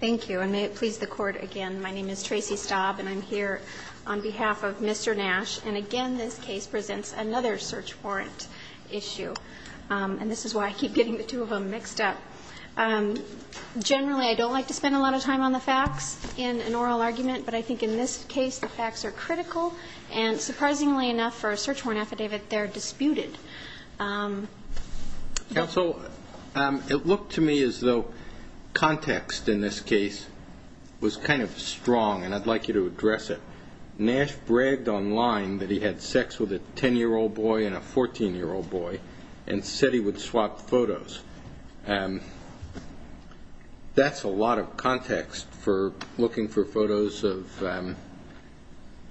Thank you. And may it please the Court again, my name is Tracy Staub and I'm here on behalf of Mr. Nash. And again, this case presents another search warrant issue. And this is why I keep getting the two of them mixed up. Generally, I don't like to spend a lot of time on the facts in an oral argument, but I think in this case the facts are critical. And surprisingly enough for a search warrant affidavit, they're disputed. Counsel, it looked to me as though context in this case was kind of strong, and I'd like you to address it. Nash bragged online that he had sex with a 10-year-old boy and a 14-year-old boy and said he would swap photos. That's a lot of context for looking for photos of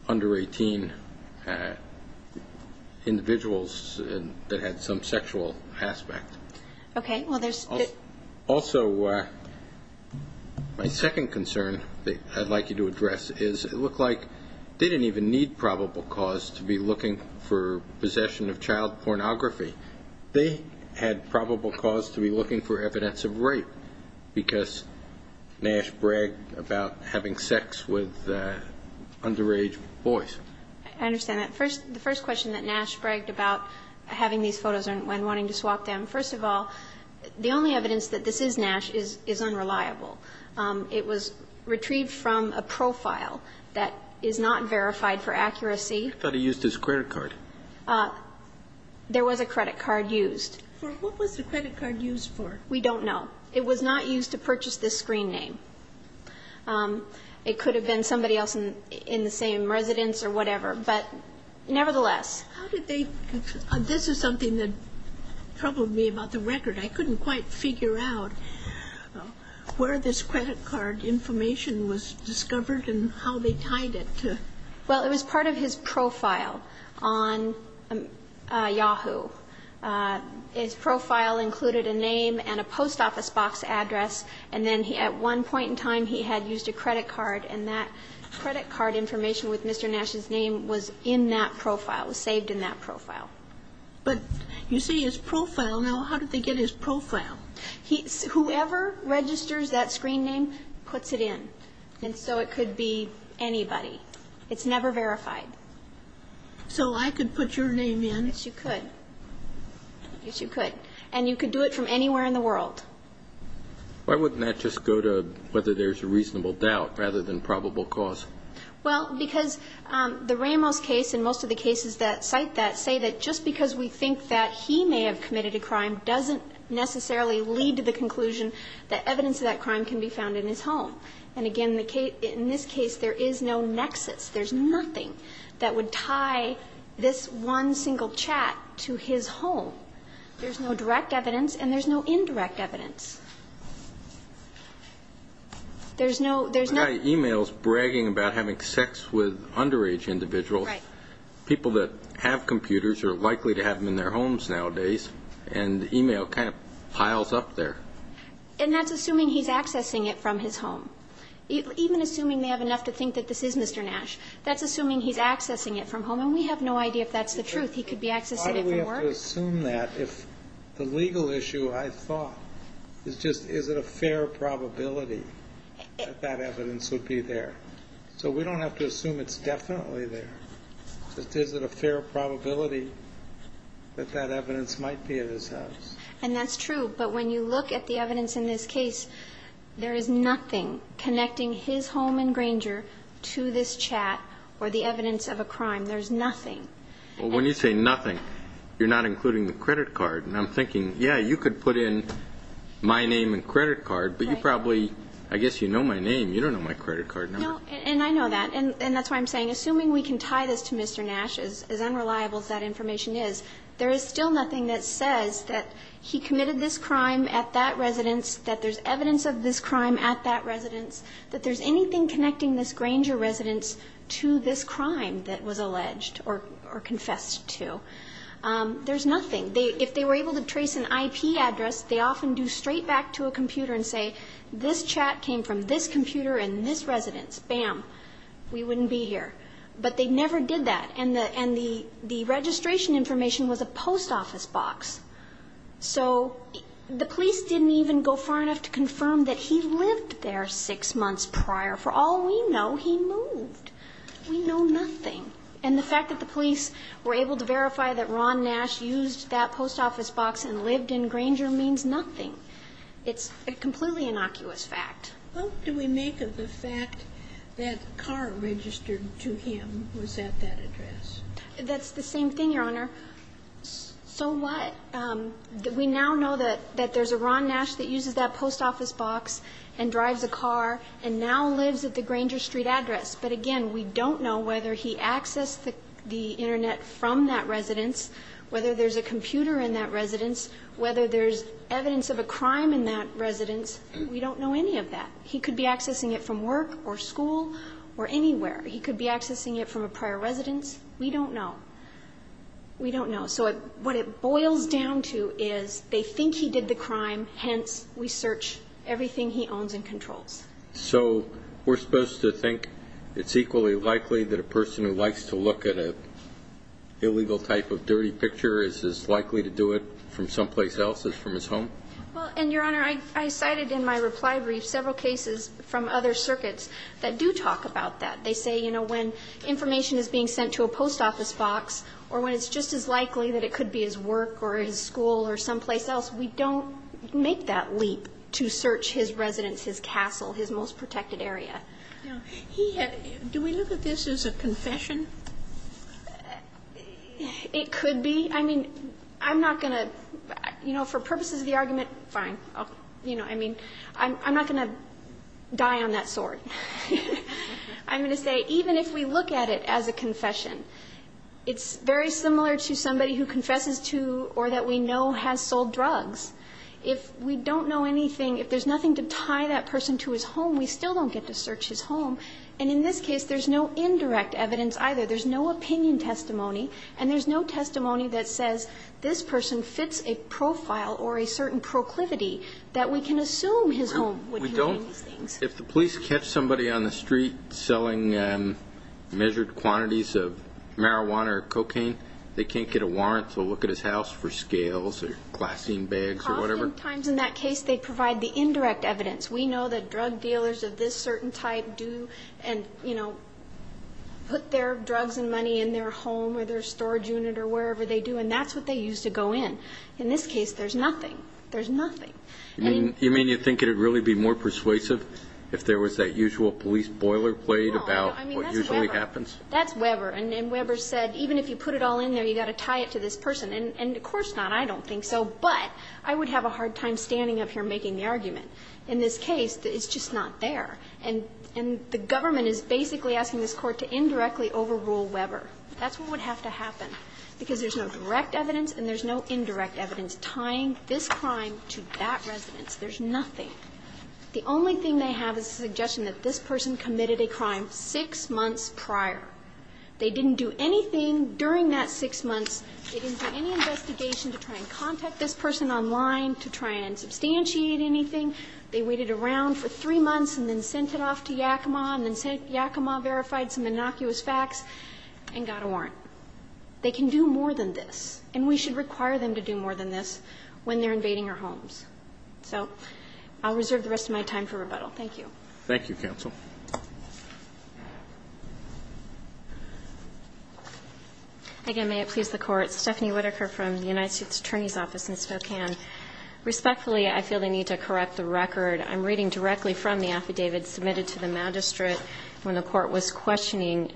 under 18 individuals that had some sexual aspect. Also, my second concern that I'd like you to address is it looked like they didn't even need probable cause to be looking for possession of child pornography. They had probable cause to be looking for evidence of rape because Nash bragged about having sex with underage boys. I understand that. The first question that Nash bragged about having these photos and wanting to swap them, first of all, the only evidence that this is Nash is unreliable. It was retrieved from a profile that is not verified for accuracy. I thought he used his credit card. There was a credit card used. What was the credit card used for? We don't know. It was not used to purchase this screen name. It could have been somebody else in the same residence or whatever, but nevertheless. This is something that troubled me about the record. I couldn't quite figure out where this credit card information was discovered and how they tied it. Well, it was part of his profile on Yahoo. His profile included a name and a post office box address. And then at one point in time, he had used a credit card, and that credit card information with Mr. Nash's name was in that profile, was saved in that profile. But you see his profile. Now, how did they get his profile? Whoever registers that screen name puts it in. And so it could be anybody. It's never verified. So I could put your name in? Yes, you could. Yes, you could. And you could do it from anywhere in the world. Why wouldn't that just go to whether there's a reasonable doubt rather than probable cause? Well, because the Ramos case and most of the cases that cite that say that just because we think that he may have committed a crime doesn't necessarily lead to the conclusion that evidence of that crime can be found in his home. And again, in this case, there is no nexus. There's nothing that would tie this one single chat to his home. There's no direct evidence, and there's no indirect evidence. There's no ‑‑ The guy emails bragging about having sex with underage individuals. Right. People that have computers are likely to have them in their homes nowadays, and the email kind of piles up there. And that's assuming he's accessing it from his home. Even assuming they have enough to think that this is Mr. Nash, that's assuming he's accessing it from home, and we have no idea if that's the truth. He could be accessing it from work. Why do we have to assume that if the legal issue, I thought, is just is it a fair probability that that evidence would be there? So we don't have to assume it's definitely there. It's just is it a fair probability that that evidence might be at his house? And that's true. But when you look at the evidence in this case, there is nothing connecting his home in Granger to this chat or the evidence of a crime. There's nothing. Well, when you say nothing, you're not including the credit card. And I'm thinking, yeah, you could put in my name and credit card, but you probably ‑‑ I guess you know my name. You don't know my credit card number. No, and I know that. And that's why I'm saying, assuming we can tie this to Mr. Nash, as unreliable as that information is, there is still nothing that says that he committed this crime at that residence, that there's evidence of this crime at that residence, that there's anything connecting this Granger residence to this crime that was alleged or confessed to. There's nothing. If they were able to trace an IP address, they often do straight back to a computer and say, this chat came from this computer in this residence. Bam. We wouldn't be here. But they never did that. And the registration information was a post office box. So the police didn't even go far enough to confirm that he lived there six months prior. For all we know, he moved. We know nothing. And the fact that the police were able to verify that Ron Nash used that post office box and lived in Granger means nothing. It's a completely innocuous fact. What do we make of the fact that a car registered to him was at that address? That's the same thing, Your Honor. So what? We now know that there's a Ron Nash that uses that post office box and drives a car and now lives at the Granger Street address. But again, we don't know whether he accessed the Internet from that residence, whether there's a computer in that residence, whether there's evidence of a crime in that residence. We don't know any of that. He could be accessing it from work or school or anywhere. He could be accessing it from a prior residence. We don't know. We don't know. So what it boils down to is they think he did the crime. Hence, we search everything he owns and controls. So we're supposed to think it's equally likely that a person who likes to look at an illegal type of dirty picture is as likely to do it from someplace else as from his home? Well, and, Your Honor, I cited in my reply brief several cases from other circuits that do talk about that. They say, you know, when information is being sent to a post office box or when it's just as likely that it could be his work or his school or someplace else, we don't make that leap to search his residence, his castle, his most protected area. Now, he had do we look at this as a confession? It could be. I mean, I'm not going to, you know, for purposes of the argument, fine. You know, I mean, I'm not going to die on that sword. I'm going to say even if we look at it as a confession, it's very similar to somebody who confesses to or that we know has sold drugs. If we don't know anything, if there's nothing to tie that person to his home, we still don't get to search his home. And in this case, there's no indirect evidence either. There's no opinion testimony. And there's no testimony that says this person fits a profile or a certain proclivity that we can assume his home would contain these things. If the police catch somebody on the street selling measured quantities of marijuana or cocaine, they can't get a warrant to look at his house for scales or glassine bags or whatever? Oftentimes in that case, they provide the indirect evidence. We know that drug dealers of this certain type do and, you know, put their drugs and money in their home or their storage unit or wherever they do, and that's what they use to go in. In this case, there's nothing. There's nothing. And you mean you think it would really be more persuasive if there was that usual police boilerplate about what usually happens? No. I mean, that's Weber. That's Weber. And Weber said even if you put it all in there, you've got to tie it to this person. And of course not. I don't think so. But I would have a hard time standing up here making the argument. In this case, it's just not there. And the government is basically asking this Court to indirectly overrule Weber. That's what would have to happen, because there's no direct evidence and there's no indirect evidence tying this crime to that residence. There's nothing. The only thing they have is a suggestion that this person committed a crime six months prior. They didn't do anything during that six months. They didn't do any investigation to try and contact this person online, to try and substantiate anything. They waited around for three months and then sent it off to Yakima, and then Yakima verified some innocuous facts and got a warrant. They can do more than this, and we should require them to do more than this when they're invading our homes. So I'll reserve the rest of my time for rebuttal. Thank you. Thank you, counsel. Again, may it please the Court. Stephanie Whitaker from the United States Attorney's Office in Spokane. Respectfully, I feel the need to correct the record. I'm reading directly from the affidavit submitted to the magistrate when the Court was questioning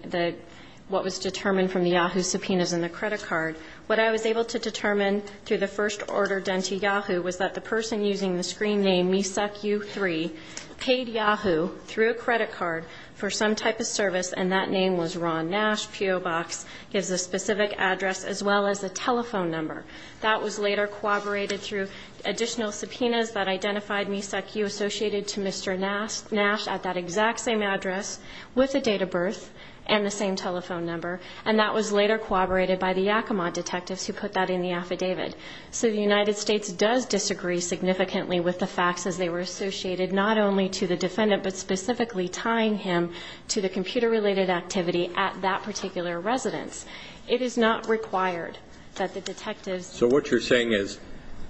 what was determined from the Yahoo subpoenas in the credit card. What I was able to determine through the first order done to Yahoo was that the person using the screen name mesucku3 paid Yahoo through a credit card for some type of service, and that name was Ron Nash. P.O. Box gives a specific address as well as a telephone number. That was later corroborated through additional subpoenas that identified mesucku associated to Mr. Nash at that exact same address with the date of birth and the same telephone number, and that was later corroborated by the Yakima detectives who put that in the affidavit. So the United States does disagree significantly with the facts as they were associated not only to the defendant but specifically tying him to the computer related activity at that particular residence. It is not required that the detectives. So what you're saying is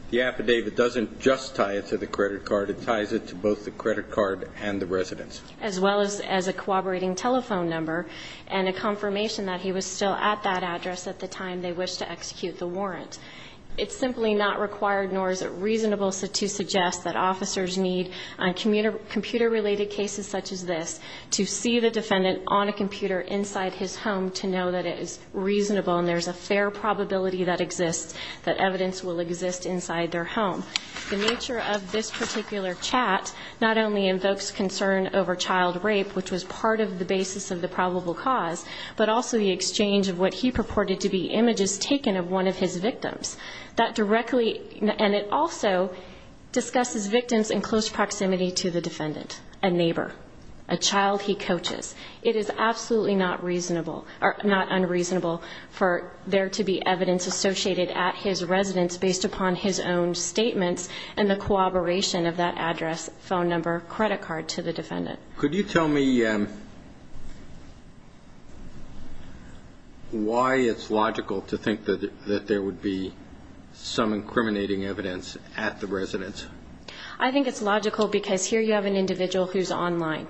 the affidavit doesn't just tie it to the credit card. It ties it to both the credit card and the residence. As well as a corroborating telephone number and a confirmation that he was still at that address at the time they wished to execute the warrant. It's simply not required nor is it reasonable to suggest that officers need computer related cases such as this to see the defendant on a computer inside his home to know that it is reasonable and there's a fair probability that exists, that evidence will exist inside their home. The nature of this particular chat not only invokes concern over child rape, which was part of the basis of the probable cause, but also the exchange of what he purported to be images taken of one of his victims. That directly, and it also discusses victims in close proximity to the defendant, a neighbor, a child he coaches. It is absolutely not unreasonable for there to be evidence associated at his residence based upon his own statements and the corroboration of that address, phone number, credit card to the defendant. Could you tell me why it's logical to think that there would be some incriminating evidence at the residence? I think it's logical because here you have an individual who's online.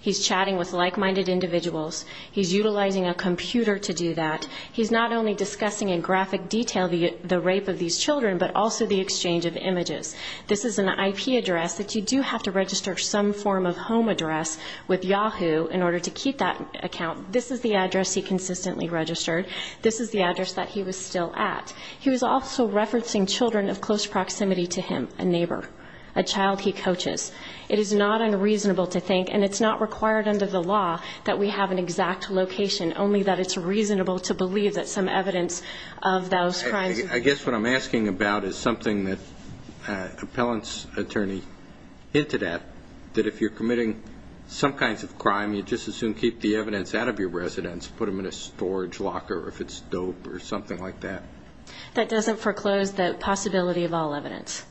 He's chatting with like-minded individuals. He's utilizing a computer to do that. He's not only discussing in graphic detail the rape of these children, but also the exchange of images. This is an IP address that you do have to register some form of home address with Yahoo in order to keep that account. This is the address he consistently registered. This is the address that he was still at. He was also referencing children of close proximity to him, a neighbor, a child he coaches. It is not unreasonable to think, and it's not required under the law, that we have an exact location, only that it's reasonable to believe that some evidence of those crimes. I guess what I'm asking about is something that appellant's attorney hinted at, that if you're committing some kinds of crime, you just as soon keep the evidence out of your residence, put them in a storage locker if it's dope or something like that. That doesn't foreclose the possibility of all evidence.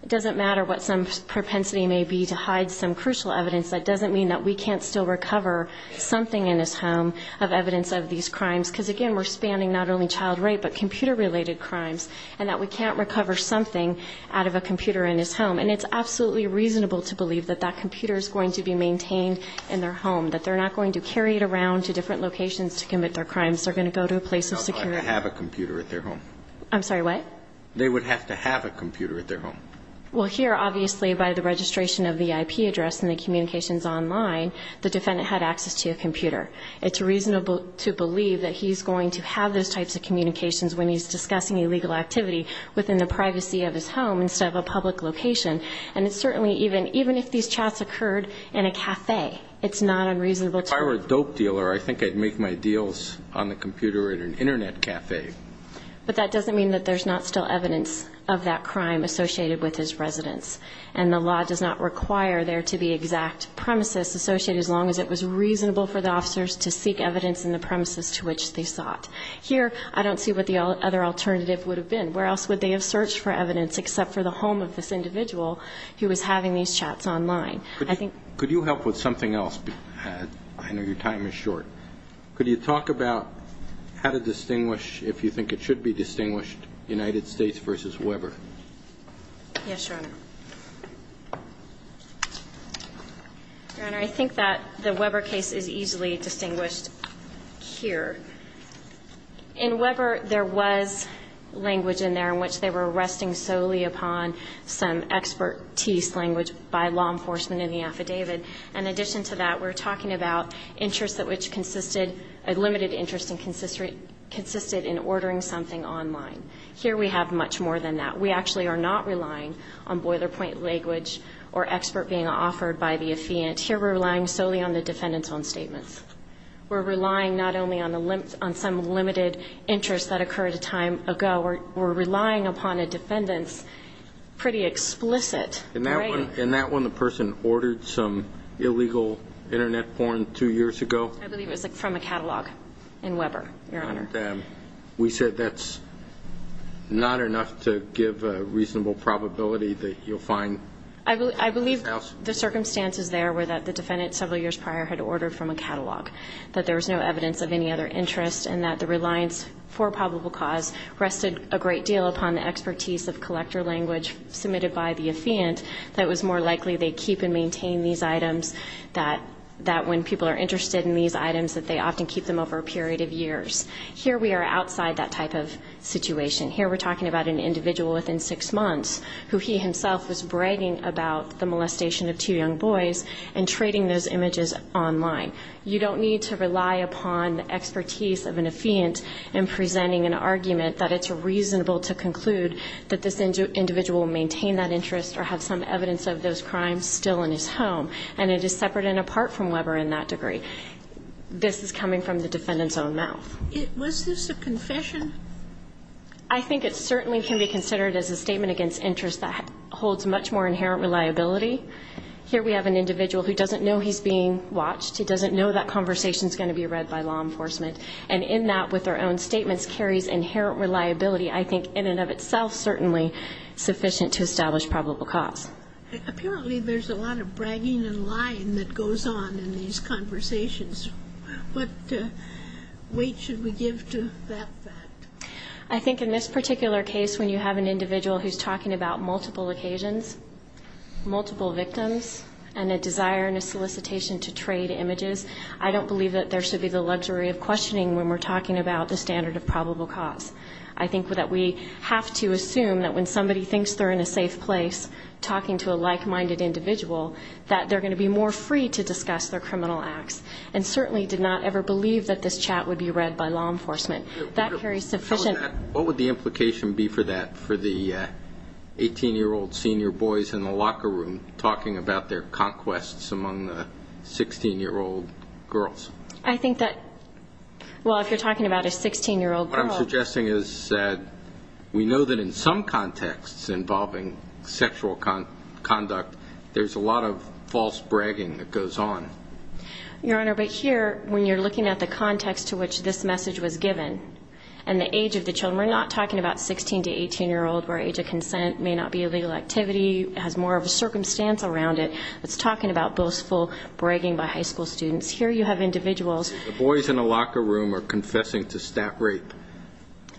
It doesn't matter what some propensity may be to hide some crucial evidence. That doesn't mean that we can't still recover something in his home of evidence of these crimes, because, again, we're spanning not only child rape but computer-related crimes, and that we can't recover something out of a computer in his home. And it's absolutely reasonable to believe that that computer is going to be maintained in their home, that they're not going to carry it around to different locations to commit their crimes. They're going to go to a place of security. They would have to have a computer at their home. I'm sorry, what? They would have to have a computer at their home. Well, here, obviously, by the registration of the IP address and the communications online, the defendant had access to a computer. It's reasonable to believe that he's going to have those types of communications when he's discussing illegal activity within the privacy of his home instead of a public location. And it's certainly even if these chats occurred in a café, it's not unreasonable to believe. If I were a dope dealer, I think I'd make my deals on the computer at an Internet café. But that doesn't mean that there's not still evidence of that crime associated with his residence, and the law does not require there to be exact premises associated, as long as it was reasonable for the officers to seek evidence in the premises to which they sought. Here, I don't see what the other alternative would have been. Where else would they have searched for evidence except for the home of this individual who was having these chats online? Could you help with something else? I know your time is short. Could you talk about how to distinguish, if you think it should be distinguished, United States v. Weber? Yes, Your Honor. Your Honor, I think that the Weber case is easily distinguished here. In Weber, there was language in there in which they were resting solely upon some expertise language by law enforcement in the affidavit. In addition to that, we're talking about interests that which consisted of limited interest and consisted in ordering something online. Here we have much more than that. We actually are not relying on boiler point language or expert being offered by the affiant. Here we're relying solely on the defendant's own statements. We're relying not only on some limited interest that occurred a time ago. We're relying upon a defendant's pretty explicit. In that one, the person ordered some illegal Internet porn two years ago. I believe it was from a catalog in Weber, Your Honor. We said that's not enough to give a reasonable probability that you'll find. I believe the circumstances there were that the defendant several years prior had ordered from a catalog, that there was no evidence of any other interest, and that the reliance for probable cause rested a great deal upon the expertise of collector language submitted by the affiant that it was more likely they'd keep and maintain these items, that when people are interested in these items, that they often keep them over a period of years. Here we are outside that type of situation. Here we're talking about an individual within six months who he himself was bragging about the molestation of two young boys and trading those images online. You don't need to rely upon the expertise of an affiant in presenting an argument that it's reasonable to conclude that this individual maintained that interest or had some evidence of those crimes still in his home. And it is separate and apart from Weber in that degree. This is coming from the defendant's own mouth. Was this a confession? I think it certainly can be considered as a statement against interest that holds much more inherent reliability. Here we have an individual who doesn't know he's being watched. He doesn't know that conversation is going to be read by law enforcement. And in that, with their own statements, carries inherent reliability. I think in and of itself certainly sufficient to establish probable cause. Apparently there's a lot of bragging and lying that goes on in these conversations. What weight should we give to that fact? I think in this particular case, when you have an individual who's talking about multiple occasions, multiple victims, and a desire and a solicitation to trade images, I don't believe that there should be the luxury of questioning when we're talking about the standard of probable cause. I think that we have to assume that when somebody thinks they're in a safe place, talking to a like-minded individual, that they're going to be more free to discuss their criminal acts. And certainly did not ever believe that this chat would be read by law enforcement. That carries sufficient. What would the implication be for that for the 18-year-old senior boys in the locker room talking about their conquests among the 16-year-old girls? I think that, well, if you're talking about a 16-year-old girl. What I'm suggesting is that we know that in some contexts involving sexual conduct, there's a lot of false bragging that goes on. Your Honor, but here, when you're looking at the context to which this message was given, and the age of the children, we're not talking about 16- to 18-year-old, where age of consent may not be a legal activity, has more of a circumstance around it. It's talking about boastful bragging by high school students. Here you have individuals. The boys in the locker room are confessing to stat rape.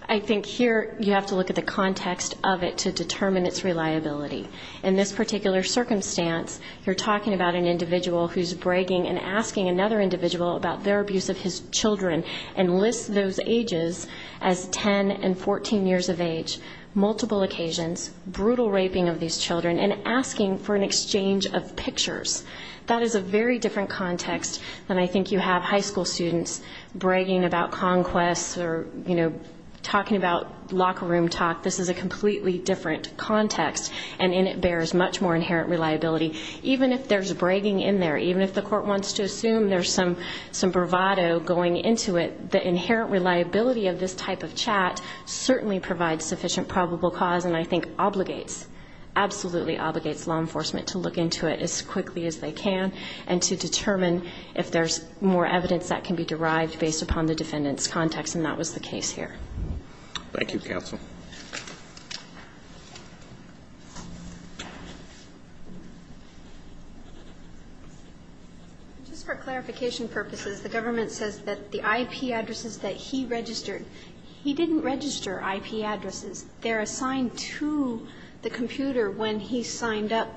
I think here you have to look at the context of it to determine its reliability. In this particular circumstance, you're talking about an individual who's bragging and asking another individual about their abuse of his children and lists those ages as 10 and 14 years of age. Multiple occasions, brutal raping of these children, and asking for an exchange of pictures. That is a very different context than I think you have high school students bragging about conquests or, you know, talking about locker room talk. This is a completely different context, and in it bears much more inherent reliability. Even if there's bragging in there, even if the court wants to assume there's some bravado going into it, the inherent reliability of this type of chat certainly provides sufficient probable cause and I think obligates, absolutely obligates law enforcement to look into it as quickly as they can and to determine if there's more evidence that can be derived based upon the defendant's context, and that was the case here. Thank you, counsel. Just for clarification purposes, the government says that the IP addresses that he registered, he didn't register IP addresses. They're assigned to the computer when he signed up,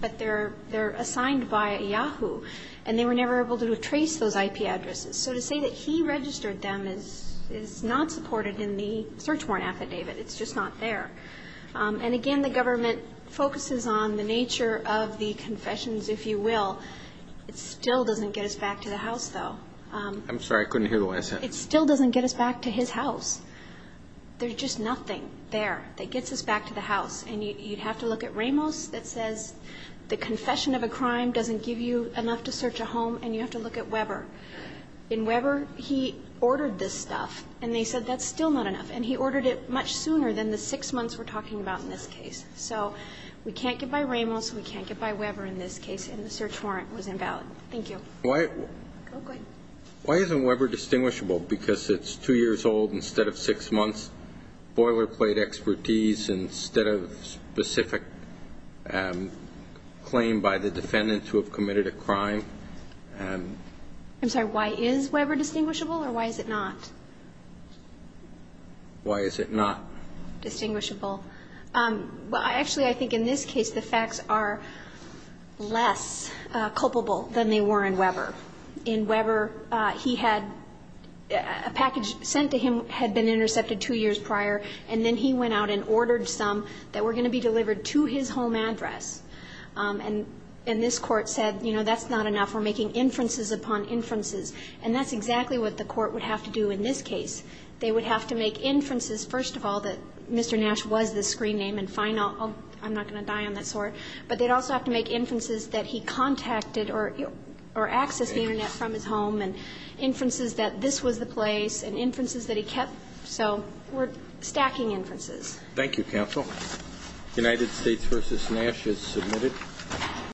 but they're assigned by Yahoo, and they were never able to trace those IP addresses. So to say that he registered them is not supported in the search warrant affidavit. It's just not there. And again, the government focuses on the nature of the confessions, if you will. It still doesn't get us back to the house, though. I'm sorry. I couldn't hear the way I said it. It still doesn't get us back to his house. There's just nothing there that gets us back to the house, and you'd have to look at Ramos that says the confession of a crime doesn't give you enough to search a home, and you have to look at Weber. In Weber, he ordered this stuff, and they said that's still not enough, and he ordered it much sooner than the six months we're talking about in this case. So we can't get by Ramos, we can't get by Weber in this case, and the search warrant was invalid. Thank you. Go ahead. Why isn't Weber distinguishable? Because it's two years old instead of six months, boilerplate expertise instead of specific claim by the defendant to have committed a crime. I'm sorry. Why is Weber distinguishable, or why is it not? Why is it not? Distinguishable. Well, actually, I think in this case the facts are less culpable than they were in Weber. In Weber, he had a package sent to him had been intercepted two years prior, and then he went out and ordered some that were going to be delivered to his home address. And this Court said, you know, that's not enough, we're making inferences upon inferences, and that's exactly what the Court would have to do in this case. They would have to make inferences, first of all, that Mr. Nash was the screen name, and fine, I'm not going to die on that sword, but they'd also have to make inferences that he contacted or accessed the Internet from his home, and inferences that this was the place, and inferences that he kept. So we're stacking inferences. Thank you, counsel. United States v. Nash is submitted.